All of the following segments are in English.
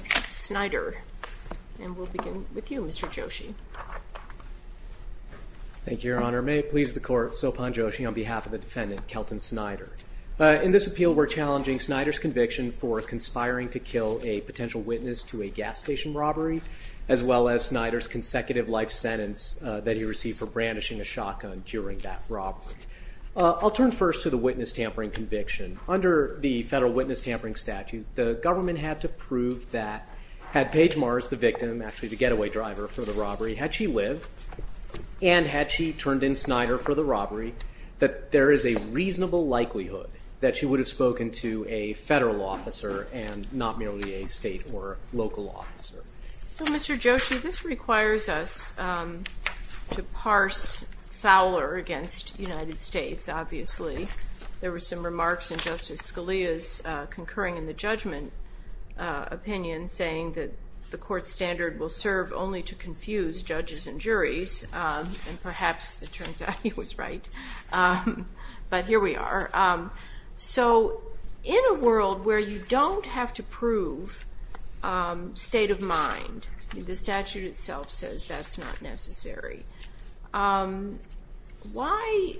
Snyder. And we'll begin with you Mr. Joshi. Thank you, Your Honor. May it please the court, Sophan Joshi, on behalf of the defendant, Kelton Snyder. In this appeal we're challenging Snyder's conviction for conspiring to kill a potential witness to a gas station robbery, as well as Snyder's consecutive life sentence that he received for brandishing a shotgun during that robbery. I'll turn first to the witness tampering conviction. Under the federal statute, the government had to prove that had Paige Mars, the victim, actually the getaway driver for the robbery, had she lived, and had she turned in Snyder for the robbery, that there is a reasonable likelihood that she would have spoken to a federal officer and not merely a state or local officer. So Mr. Joshi, this requires us to parse Fowler against the United States, obviously. There were some remarks in Justice Scalia's concurring in the judgment opinion saying that the court's standard will serve only to confuse judges and juries, and perhaps it turns out he was right. But here we are. So in a world where you don't have to prove state of mind, the statute itself says that's not necessary, why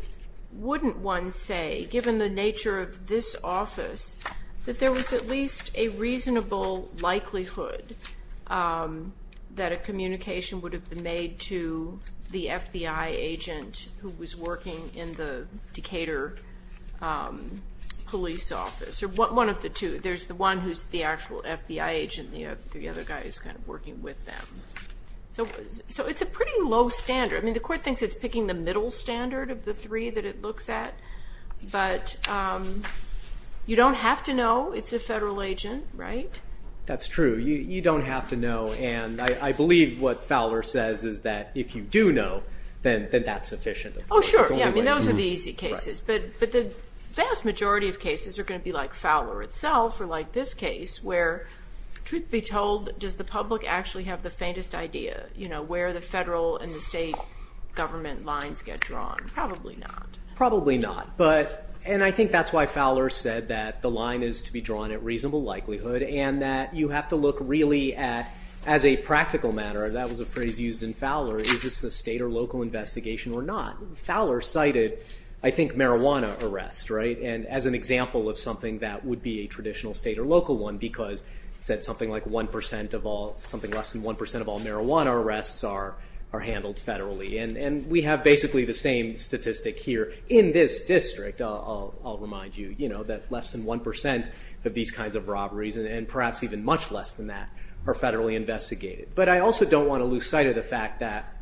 wouldn't one say, given the nature of this office, that there was at least a reasonable likelihood that a communication would have been made to the FBI agent who was working in the Decatur police office, or one of the two. There's the one who's the actual FBI agent, the other guy is kind of working with them. So it's a pretty low standard. I mean, the court thinks it's picking the middle standard of the three that it looks at, but you don't have to know it's a federal agent, right? That's true. You don't have to know, and I believe what Fowler says is that if you do know, then that's sufficient. Oh, sure. Yeah, I mean, those are the easy cases. But the vast majority of cases are like this case where, truth be told, does the public actually have the faintest idea where the federal and the state government lines get drawn? Probably not. Probably not. And I think that's why Fowler said that the line is to be drawn at reasonable likelihood and that you have to look really at, as a practical matter, that was a phrase used in Fowler, is this a state or local investigation or not? Fowler cited, I think, marijuana arrest, and as an example of something that would be a traditional state or local one, because he said something like less than 1% of all marijuana arrests are handled federally. And we have basically the same statistic here in this district, I'll remind you, that less than 1% of these kinds of robberies, and perhaps even much less than that, are federally investigated. But I also don't want to lose sight of the fact that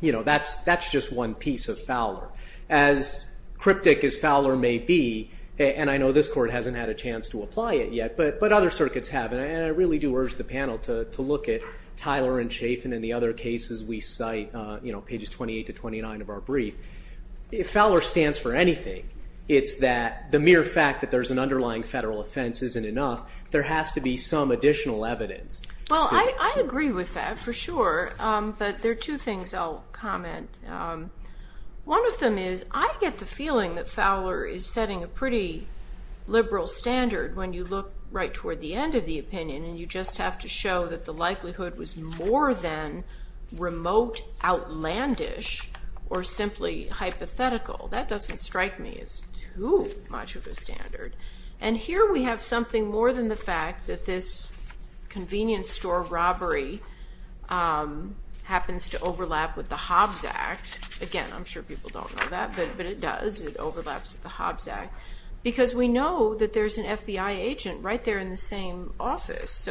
that's just one piece of Fowler. As cryptic as Fowler may be, and I know this court hasn't had a chance to apply it yet, but other circuits have, and I really do urge the panel to look at Tyler and Chaffin and the other cases we cite, pages 28 to 29 of our brief. If Fowler stands for anything, it's that the mere fact that there's an underlying federal offense isn't enough. There has to be some additional evidence. Well, I agree with that for sure, but there are two things I'll comment. One of them is, I get the feeling that Fowler is setting a pretty liberal standard when you look right toward the end of the opinion, and you just have to show that the likelihood was more than remote outlandish or simply hypothetical. That doesn't strike me as too much of a standard. And here we have something more than the fact that this convenience store robbery happens to overlap with the Hobbs Act. Again, I'm sure people don't know that, but it does. It overlaps with the Hobbs Act. Because we know that there's an FBI agent right there in the same office,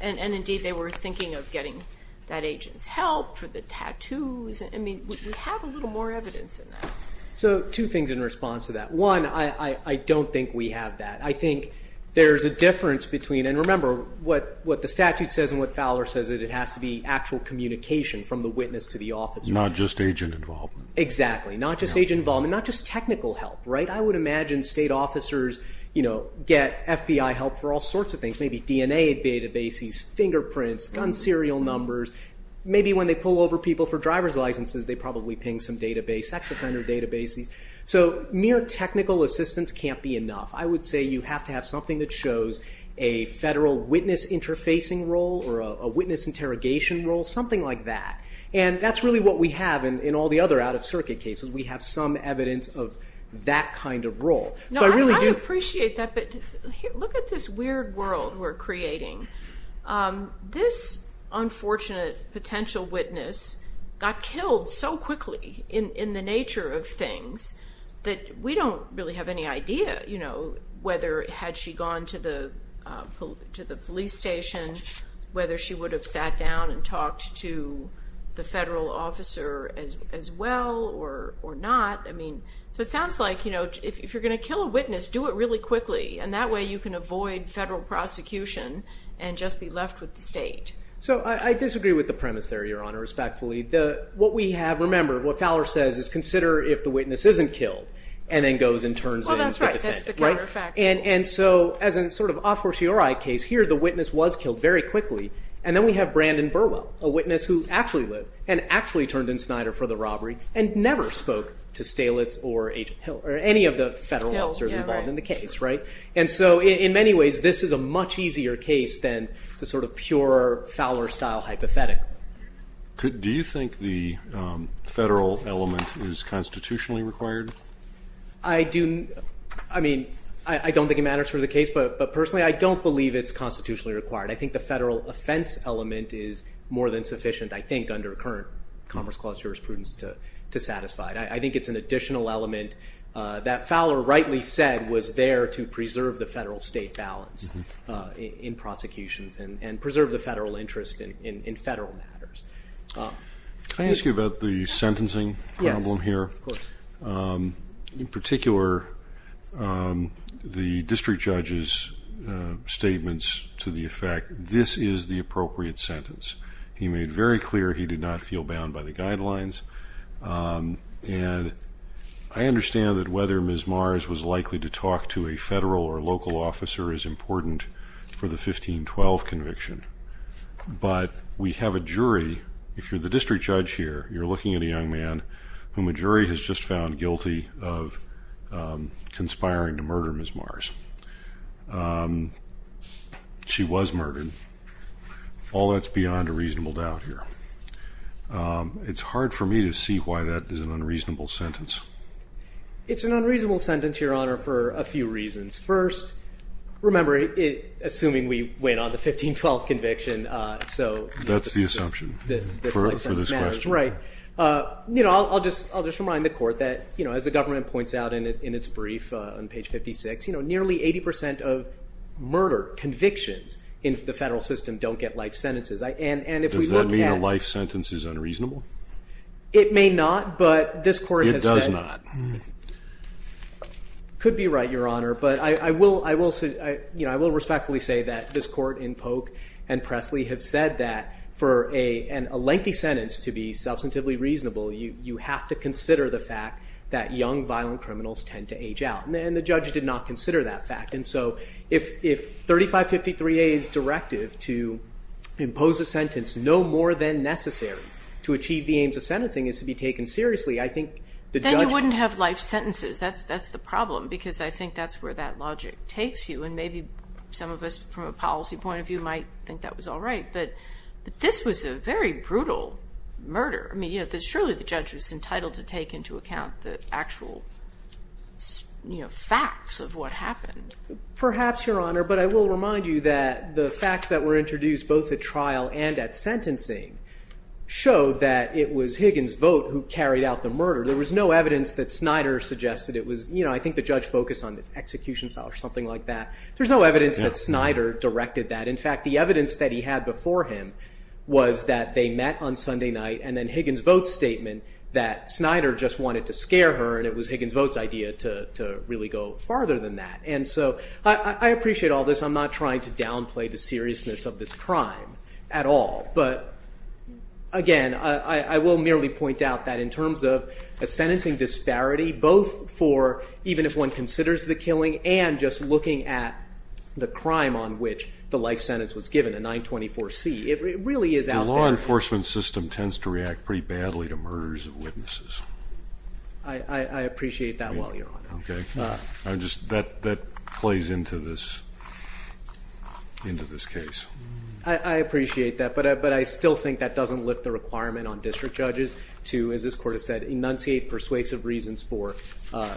and indeed they were thinking of getting that agent's help for the tattoos. I mean, we have a little more evidence than that. So two things in response to that. One, I don't think we have that. I think there's a difference between, and remember, what the statute says and what Fowler says is it has to be actual communication from the witness to the officer. Not just agent involvement. Exactly. Not just agent involvement. Not just technical help, right? I would imagine state officers get FBI help for all sorts of things. Maybe DNA databases, fingerprints, gun serial numbers. Maybe when they pull over people for driver's licenses, they probably ping some database, ex-offender databases. So mere technical assistance can't be enough. I would say you have to have something that shows a federal witness interfacing role or a witness interrogation role, something like that. And that's really what we have in all the other out-of-circuit cases. We have some evidence of that kind of role. No, I appreciate that, but look at this weird world we're creating. This unfortunate potential witness got killed so quickly in the nature of things that we don't really have any idea whether had she gone to the police station, whether she would have sat down and talked to the federal officer as well or not. So it sounds like if you're going to kill a witness, do it really quickly, and that way you can avoid federal prosecution and just be left with the state. So I disagree with the premise there, Your Honor, respectfully. What we have, remember, what Fowler says is consider if the witness isn't killed and then goes and turns in to defend it. Well, that's right. That's the counterfactual. And so as a sort of a fortiori case, here the witness was killed very quickly, and then we have Brandon Burwell, a witness who actually lived and actually turned in Snyder for the robbery and never spoke to Stalitz or any of the federal officers involved in the case. And so in many ways, this is a much easier case than the sort of pure Fowler-style hypothetic. Do you think the federal element is constitutionally required? I don't think it matters for the case, but personally, I don't believe it's constitutionally required. I think the federal offense element is more than sufficient, I think, under current Commerce Clause jurisprudence to satisfy it. I think it's an additional element that Fowler rightly said was there to preserve the federal-state balance in prosecutions and preserve the federal interest in federal matters. Can I ask you about the sentencing problem here? Yes, of course. In particular, the district judge's statements to the effect, this is the appropriate sentence. He made very clear he did not feel bound by the guidelines. And I understand that whether Ms. Mars was likely to talk to a federal or local officer is important for the 1512 conviction. But we have a jury, if you're the district judge here, you're looking at a young man whom a jury has just found guilty of conspiring to murder Ms. Mars. She was murdered. All that's beyond a reasonable doubt here. It's hard for me to see why that is an unreasonable sentence. It's an unreasonable sentence, Your Honor, for a few reasons. First, remember, assuming we went on the 1512 conviction, so... That's the assumption for this question. Right. I'll just remind the Court that, as the government points out in its brief on page 56, nearly 80 percent of murder convictions in the federal system don't get life sentences. Does that mean a life sentence is unreasonable? It may not, but this Court has said... It may or may not. Could be right, Your Honor. But I will respectfully say that this Court in Polk and Presley have said that for a lengthy sentence to be substantively reasonable, you have to consider the fact that young violent criminals tend to age out. And the judge did not consider that fact. And so if 3553A's directive to impose a sentence no more than necessary to achieve the aims of sentencing is to be taken seriously, I think the judge... But you wouldn't have life sentences. That's the problem, because I think that's where that logic takes you. And maybe some of us from a policy point of view might think that was all right. But this was a very brutal murder. I mean, surely the judge was entitled to take into account the actual facts of what happened. Perhaps, Your Honor, but I will remind you that the facts that were introduced both at trial and at sentencing showed that it was Higgins' vote who carried out the murder. There was no evidence that Snyder suggested it was... I think the judge focused on this execution style or something like that. There's no evidence that Snyder directed that. In fact, the evidence that he had before him was that they met on Sunday night and then Higgins' vote statement that Snyder just wanted to scare her, and it was Higgins' vote's idea to really go farther than that. And so I appreciate all this. I'm not trying to downplay the seriousness of this crime at all. But, again, I will merely point out that in terms of a sentencing disparity, both for even if one considers the killing and just looking at the crime on which the life sentence was given, a 924C, it really is out there... The law enforcement system tends to react pretty badly to murders of witnesses. I appreciate that well, Your Honor. That plays into this case. I appreciate that, but I still think that doesn't lift the requirement on district judges to, as this Court has said, enunciate persuasive reasons for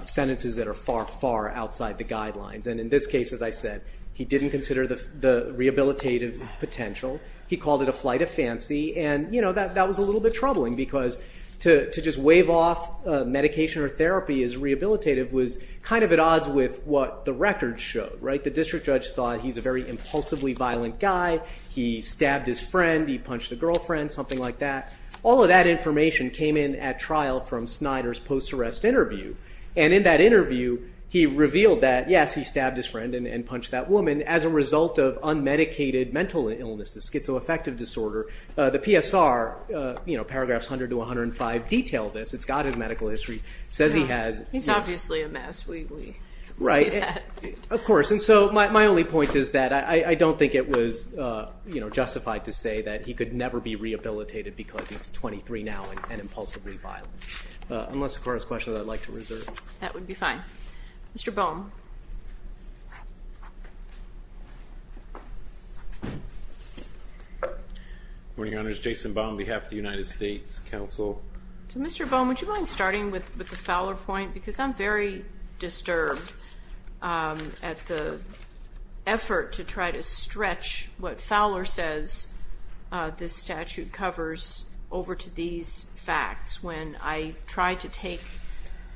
sentences that are far, far outside the guidelines. And in this case, as I said, he didn't consider the rehabilitative potential. He called it a flight of fancy, and that was a little bit troubling because to just wave off medication or therapy as rehabilitative was kind of at odds with what the records showed. The district judge thought he's a very impulsively violent guy. He stabbed his friend. He punched the girlfriend, something like that. All of that information came in at trial from Snyder's post-arrest interview. And in that interview, he revealed that, yes, he stabbed his friend and punched that woman as a result of unmedicated mental illness, the schizoaffective disorder. The PSR, paragraphs 100 to 105, detail this. It's got his medical history. It says he has... He's obviously a mess. We can see that. Of course. And so my only point is that I don't think it was justified to say that he could never be rehabilitated because he's 23 now and impulsively violent, unless the Court has questions I'd like to reserve. That would be fine. Mr. Boehm. Good morning, Your Honors. Jason Boehm on behalf of the United States Counsel. So, Mr. Boehm, would you mind starting with the Fowler point? Because I'm very disturbed at the effort to try to stretch what Fowler says this statute covers over to these facts, when I try to take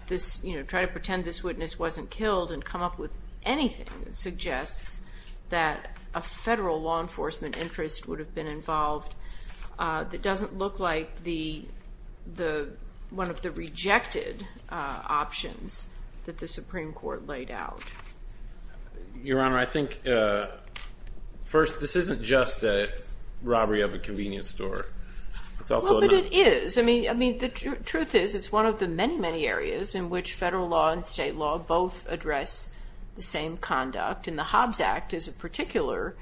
this, you know, try to pretend this witness wasn't killed and come up with anything that suggests that a federal law enforcement interest would have been involved that doesn't look like one of the rejected options that the Supreme Court laid out. Your Honor, I think, first, this isn't just a robbery of a convenience store. It's also... Well, but it is. I mean, the truth is it's one of the many, many areas in which federal law and state law both address the same conduct. And the Hobbs Act is a particular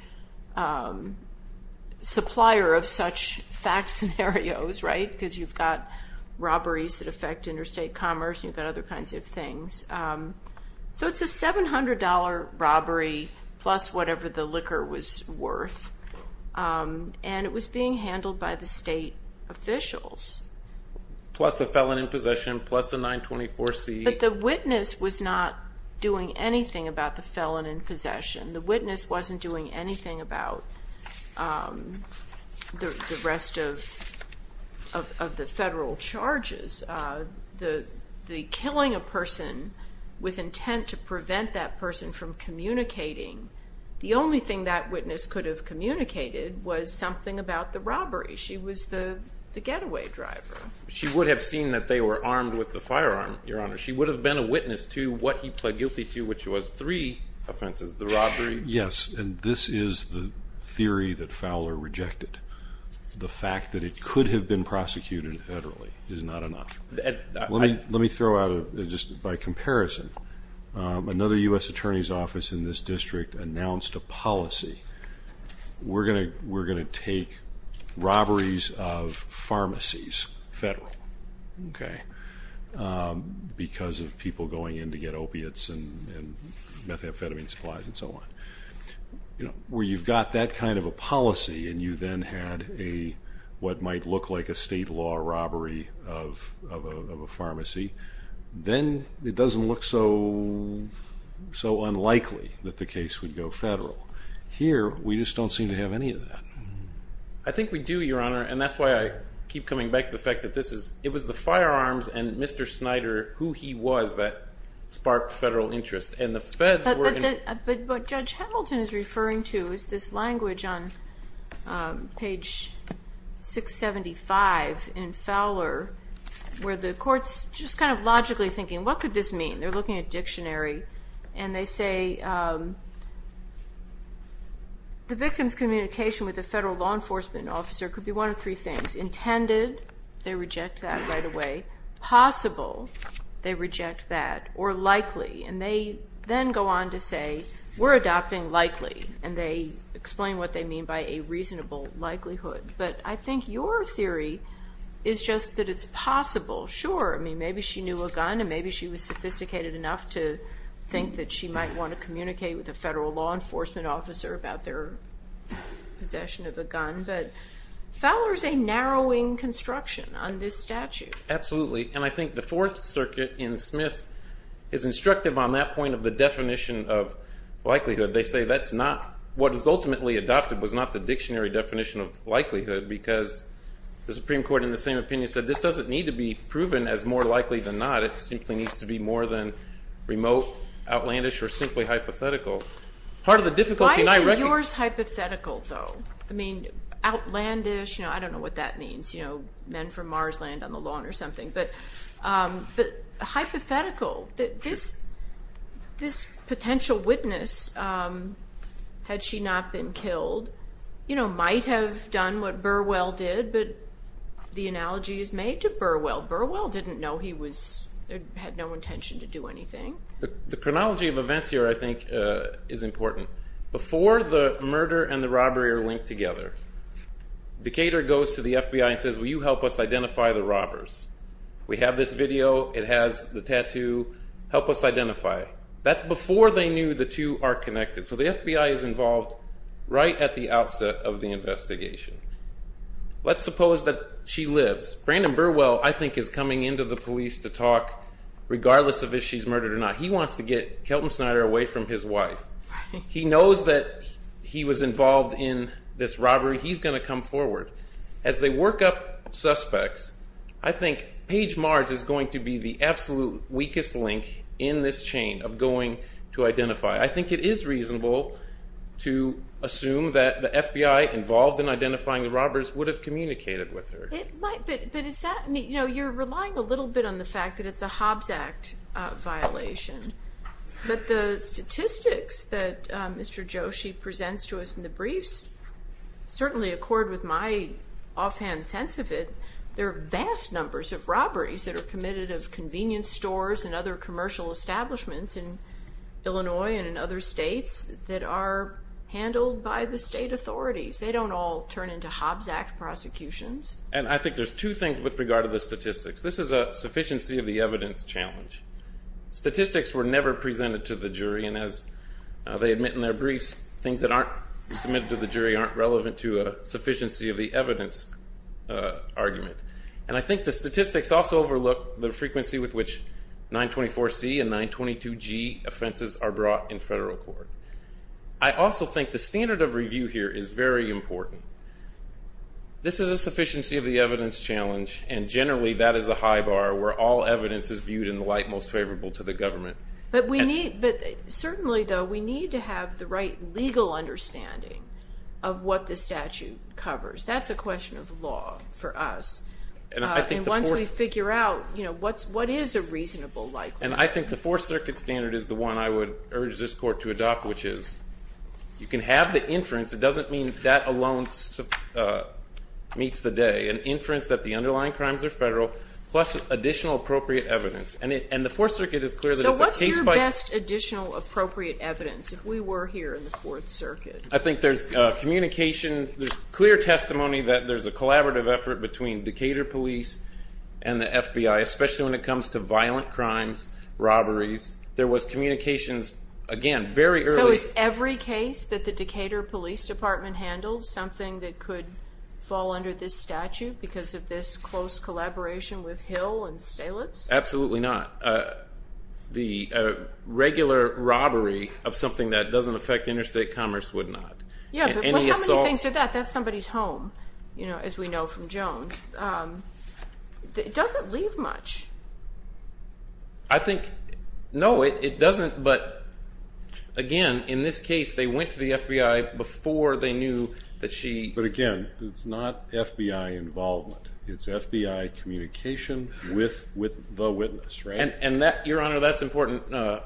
supplier of such fact scenarios, right? Because you've got robberies that affect interstate commerce and you've got other kinds of things. So it's a $700 robbery, plus whatever the liquor was worth, and it was being handled by the state officials. Plus a felon in possession, plus a 924C. But the witness was not doing anything about the felon in possession. The witness wasn't doing anything about the rest of the federal charges. The killing a person with intent to prevent that person from communicating, the only thing that witness could have communicated was something about the robbery. She was the getaway driver. She would have seen that they were armed with the firearm, Your Honor. She would have been a witness to what he pled guilty to, which was three offenses, the robbery... Yes, and this is the theory that Fowler rejected. The fact that it could have been prosecuted federally is not enough. Let me throw out, just by comparison, another U.S. Attorney's Office in this district announced a policy. We're going to take robberies of pharmacies federal, okay, because of people going in to get opiates and methamphetamine supplies and so on. Where you've got that kind of a policy and you then had what might look like a state law robbery of a pharmacy, then it doesn't look so unlikely that the case would go federal. Here, we just don't seem to have any of that. I think we do, Your Honor, and that's why I keep coming back to the fact that it was the firearms and Mr. Snyder, who he was, that sparked federal interest. But what Judge Hamilton is referring to is this language on page 675 in Fowler, where the court's just kind of logically thinking, what could this mean? They're looking at dictionary and they say, the victim's communication with the federal law enforcement officer could be one of three things. Intended, they reject that right away. Possible, they reject that. Or likely, and they then go on to say, we're adopting likely, and they explain what they mean by a reasonable likelihood. But I think your theory is just that it's possible. Sure, maybe she knew a gun and maybe she was sophisticated enough to think that she might want to communicate with the federal law enforcement officer about their possession of a gun, but Fowler's a narrowing construction on this statute. Absolutely, and I think the Fourth Circuit in Smith is instructive on that point of the definition of likelihood. They say that's not what is ultimately adopted was not the dictionary definition of likelihood because the Supreme Court, in the same opinion, said this doesn't need to be proven as more likely than not. It simply needs to be more than remote, outlandish, or simply hypothetical. Why isn't yours hypothetical though? I mean, outlandish, I don't know what that means, men from Mars land on the lawn or something, but hypothetical. This potential witness, had she not been killed, might have done what Burwell did, but the analogy is made to Burwell. Burwell didn't know he had no intention to do anything. The chronology of events here, I think, is important. Before the murder and the robbery are linked together, Decatur goes to the FBI and says, will you help us identify the robbers? We have this video, it has the tattoo, help us identify. That's before they knew the two are connected. So the FBI is involved right at the outset of the investigation. Let's suppose that she lives. Brandon Burwell, I think, is coming into the police to talk, regardless of if she's murdered or not. He wants to get Kelton Snyder away from his wife. He knows that he was involved in this robbery. He's going to come forward. As they work up suspects, I think Paige Mars is going to be the absolute weakest link in this chain of going to identify. I think it is reasonable to assume that the FBI involved in identifying the robbers would have communicated with her. But you're relying a little bit on the fact that it's a Hobbs Act violation. But the statistics that Mr. Joshi presents to us in the briefs, certainly accord with my offhand sense of it, there are vast numbers of robberies that are committed of convenience stores and other commercial establishments in Illinois and in other states that are handled by the state authorities. They don't all turn into Hobbs Act prosecutions. And I think there's two things with regard to the statistics. This is a sufficiency of the evidence challenge. Statistics were never presented to the jury. And as they admit in their briefs, things that aren't submitted to the jury aren't relevant to a sufficiency of the evidence argument. And I think the statistics also overlook the frequency with which 924C and 922G offenses are brought in federal court. I also think the standard of sufficiency of the evidence challenge, and generally that is a high bar where all evidence is viewed in the light most favorable to the government. But certainly though, we need to have the right legal understanding of what the statute covers. That's a question of law for us. And once we figure out what is a reasonable likelihood. And I think the Fourth Circuit standard is the one I would urge this court to adopt, which is you can have the inference. It doesn't mean that alone meets the day. An inference that the underlying crimes are federal, plus additional appropriate evidence. And the Fourth Circuit is clear that it's a case by case. So what's your best additional appropriate evidence if we were here in the Fourth Circuit? I think there's communication. There's clear testimony that there's a collaborative effort between Decatur police and the FBI, especially when it comes to violent crimes, robberies. There was communications, again, very early. So is every case that the Decatur police department handled something that could fall under this statute because of this close collaboration with Hill and Stalitz? Absolutely not. The regular robbery of something that doesn't affect interstate commerce would not. Yeah, but how many things are that? That's somebody's home, you know, as we know from Jones. It doesn't leave much. I think, no, it doesn't. But again, in this case, they went to the FBI before they knew that she... But again, it's not FBI involvement. It's FBI communication with the witness, right? And that, Your Honor, that's important.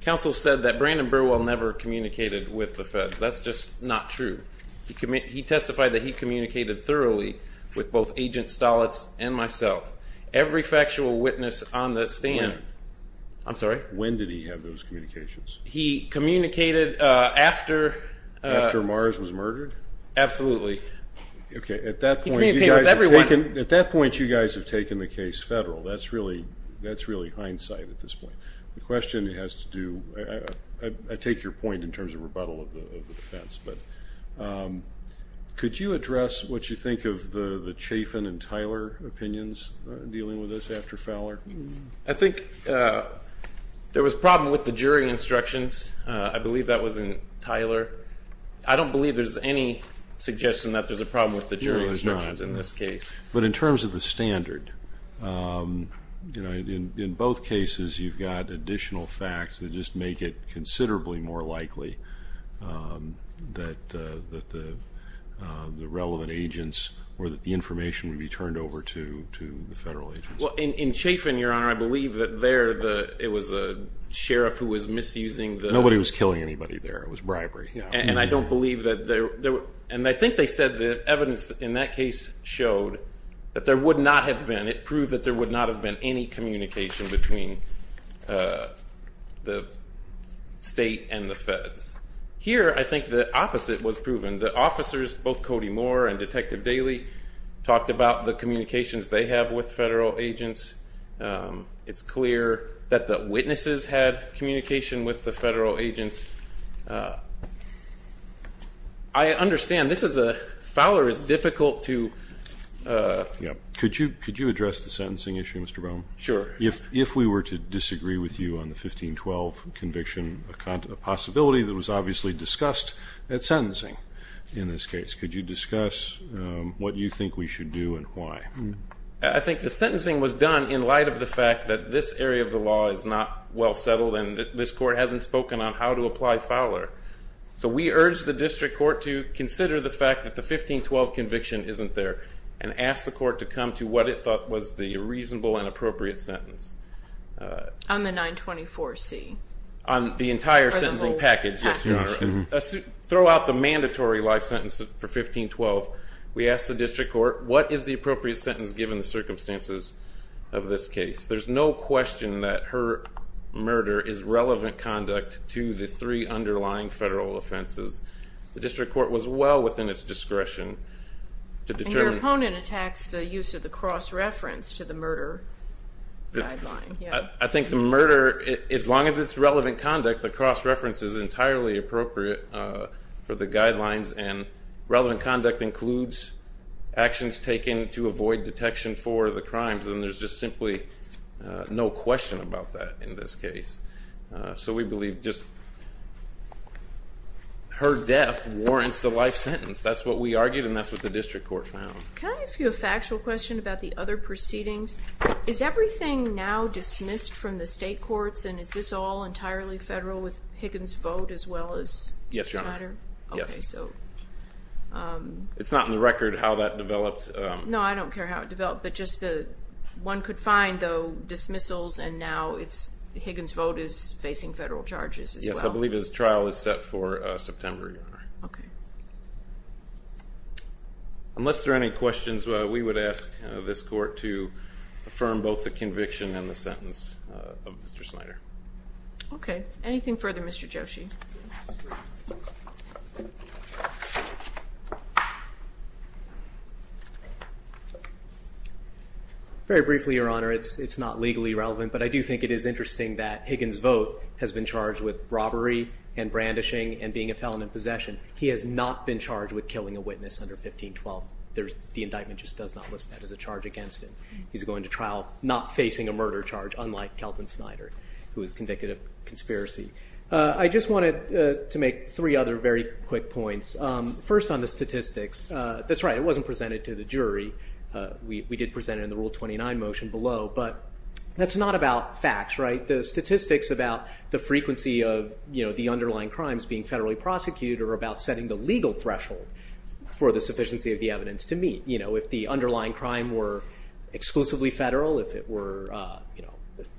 Counsel said that Brandon Burwell never communicated with the feds. That's just not true. He testified that he communicated thoroughly with both Agent Stalitz and myself. Every factual witness on the stand... When? I'm sorry? When did he have those communications? He communicated after... After Mars was murdered? Absolutely. Okay, at that point... He communicated with everyone. At that point, you guys have taken the case federal. That's really hindsight at this point. The question has to do... I take your point in terms of rebuttal of the defense, but could you address what you think of the Chafin and Tyler opinions dealing with this after Fowler? I think there was a problem with the jury instructions. I believe that was in Tyler. I don't believe there's any suggestion that there's a problem with the jury instructions in this case. No, there's not. But in terms of the standard, you know, in both cases, you've got additional facts that just make it considerably more likely that the relevant agents or that the information would be turned over to the federal agents. Well, in Chafin, Your Honor, I believe that there it was a sheriff who was misusing the... Nobody was killing anybody there. It was bribery. And I don't believe that there... And I think they said the evidence in that case showed that there would not have been... It proved that there would not have been any communication between the state and the feds. Here, I think the opposite was proven. The officers, both Cody Moore and Detective Daly, talked about the communications they have with federal agents. It's clear that the witnesses had communication with the federal agents. I understand this is a... Fowler is difficult to... Could you address the sentencing issue, Mr. Bohm? Sure. If we were to disagree with you on the 1512 conviction, a possibility that was obviously discussed at sentencing in this case. Could you discuss what you think we should do and why? I think the sentencing was done in light of the fact that this area of the law is not well settled and this court hasn't spoken on how to apply Fowler. So we urge the district court to consider the fact that the 1512 conviction isn't there and ask the court to come to what it thought was the reasonable and appropriate sentence. On the 924C? On the entire sentencing package, yes, Your Honor. Throw out the mandatory life sentence for 1512. We ask the district court, what is the appropriate sentence given the circumstances of this case? There's no question that her murder is relevant conduct to the three underlying federal offenses. The district court was well within its discretion to determine... And your opponent attacks the use of the cross-reference to the murder guideline. I think the murder, as long as it's relevant conduct, the cross-reference is entirely appropriate for the guidelines and relevant conduct includes actions taken to avoid detection for the crimes. And there's just simply no question about that in this case. So we believe just her death warrants a life sentence. That's what we argued and that's what the district court found. Can I ask you a factual question about the other proceedings? Is everything now dismissed from the state courts? And is this all entirely federal with Higgins' vote as well as Schneider? Yes, Your Honor. It's not in the record how that developed. No, I don't care how it developed. One could find, though, dismissals and now Higgins' vote is facing federal charges as well. Yes, I believe his trial is set for September, Your Honor. Okay. Unless there are any questions, we would ask this court to affirm both the conviction and the sentence of Mr. Schneider. Okay. Anything further, Mr. Joshi? Very briefly, Your Honor, it's not legally relevant, but I do think it is interesting that Higgins' vote has been charged with robbery and brandishing and being a felon in possession. He has not been charged with killing a witness under 1512. The indictment just does not list that as a charge against him. He's going to trial not facing a murder charge, unlike Kelton Schneider, who was convicted of conspiracy. I just wanted to make three other very quick points. First on the statistics, that's right, it wasn't presented to the jury. We did present it in the Rule 29 motion below, but that's not about facts, right? The statistics about the frequency of the underlying crimes being federally prosecuted are about setting the legal threshold for the sufficiency of the evidence to meet. If the underlying crime were exclusively federal, if it were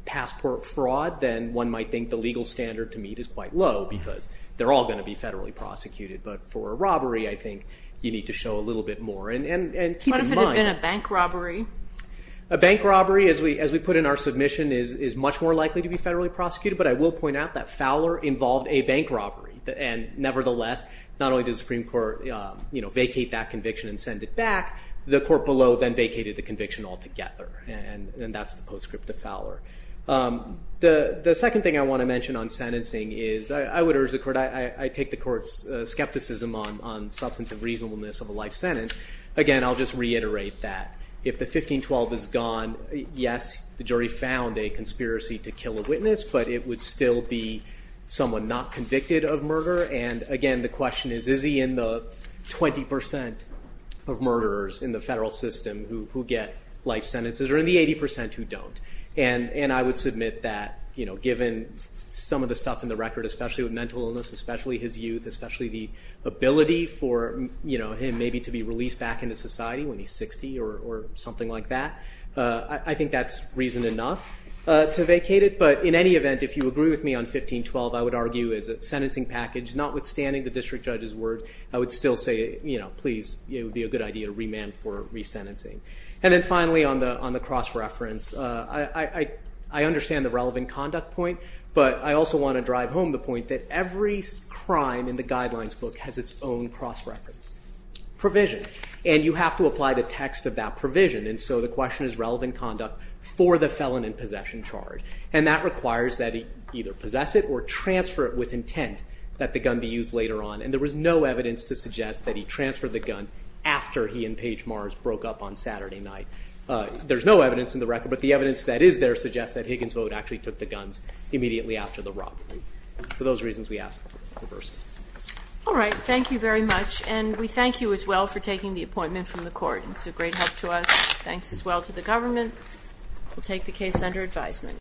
passport fraud, then one might think the legal standard to meet is quite low because they're all going to be federally prosecuted. But for a robbery, I think you need to show a little bit more and keep it moderate. Would it have been a bank robbery? A bank robbery, as we put in our submission, is much more likely to be federally prosecuted. But I will point out that Fowler involved a bank robbery. And nevertheless, not only did the Supreme Court vacate that conviction and send it back, the court below then vacated the conviction altogether. And that's the postscript of Fowler. The second thing I want to mention on sentencing is, I would urge the court, I take the court's skepticism on substantive reasonableness of a life sentence. Again, I'll just reiterate that. If the 1512 is gone, yes, the jury found a conspiracy to kill a witness, but it would still be someone not convicted of murder. And again, the question is, is he in the 20% of murderers in the federal system who get life sentences, or in the 80% who don't? And I would submit that, given some of the stuff in the record, especially with mental illness, especially his youth, especially the ability for him maybe to be released back into society when he's 60 or something like that, I think that's reason enough to vacate it. But in any event, if you agree with me on 1512, I would argue as a sentencing package, notwithstanding the district judge's word, I would still say, please, it would be a good idea to remand for resentencing. And then finally, on the cross-reference, I understand the relevant conduct point, but I also want to drive home the point that every crime in the guidelines book has its own cross-reference provision. And you have to apply the text of that provision. And so the question is relevant conduct for the felon in possession charge. And that requires that he either possess it or transfer it with intent that the gun be used later on. And there was no evidence to suggest that he transferred the gun after he and Paige Mars broke up on Saturday night. There's no evidence in the record, but the evidence that is there suggests that Higginsville actually took the guns immediately after the robbery. For those reasons, we ask for reversal. All right. Thank you very much. And we thank you as well for taking the appointment from the court. It's a great help to us. Thanks as well to the government. We'll take the case under advisement.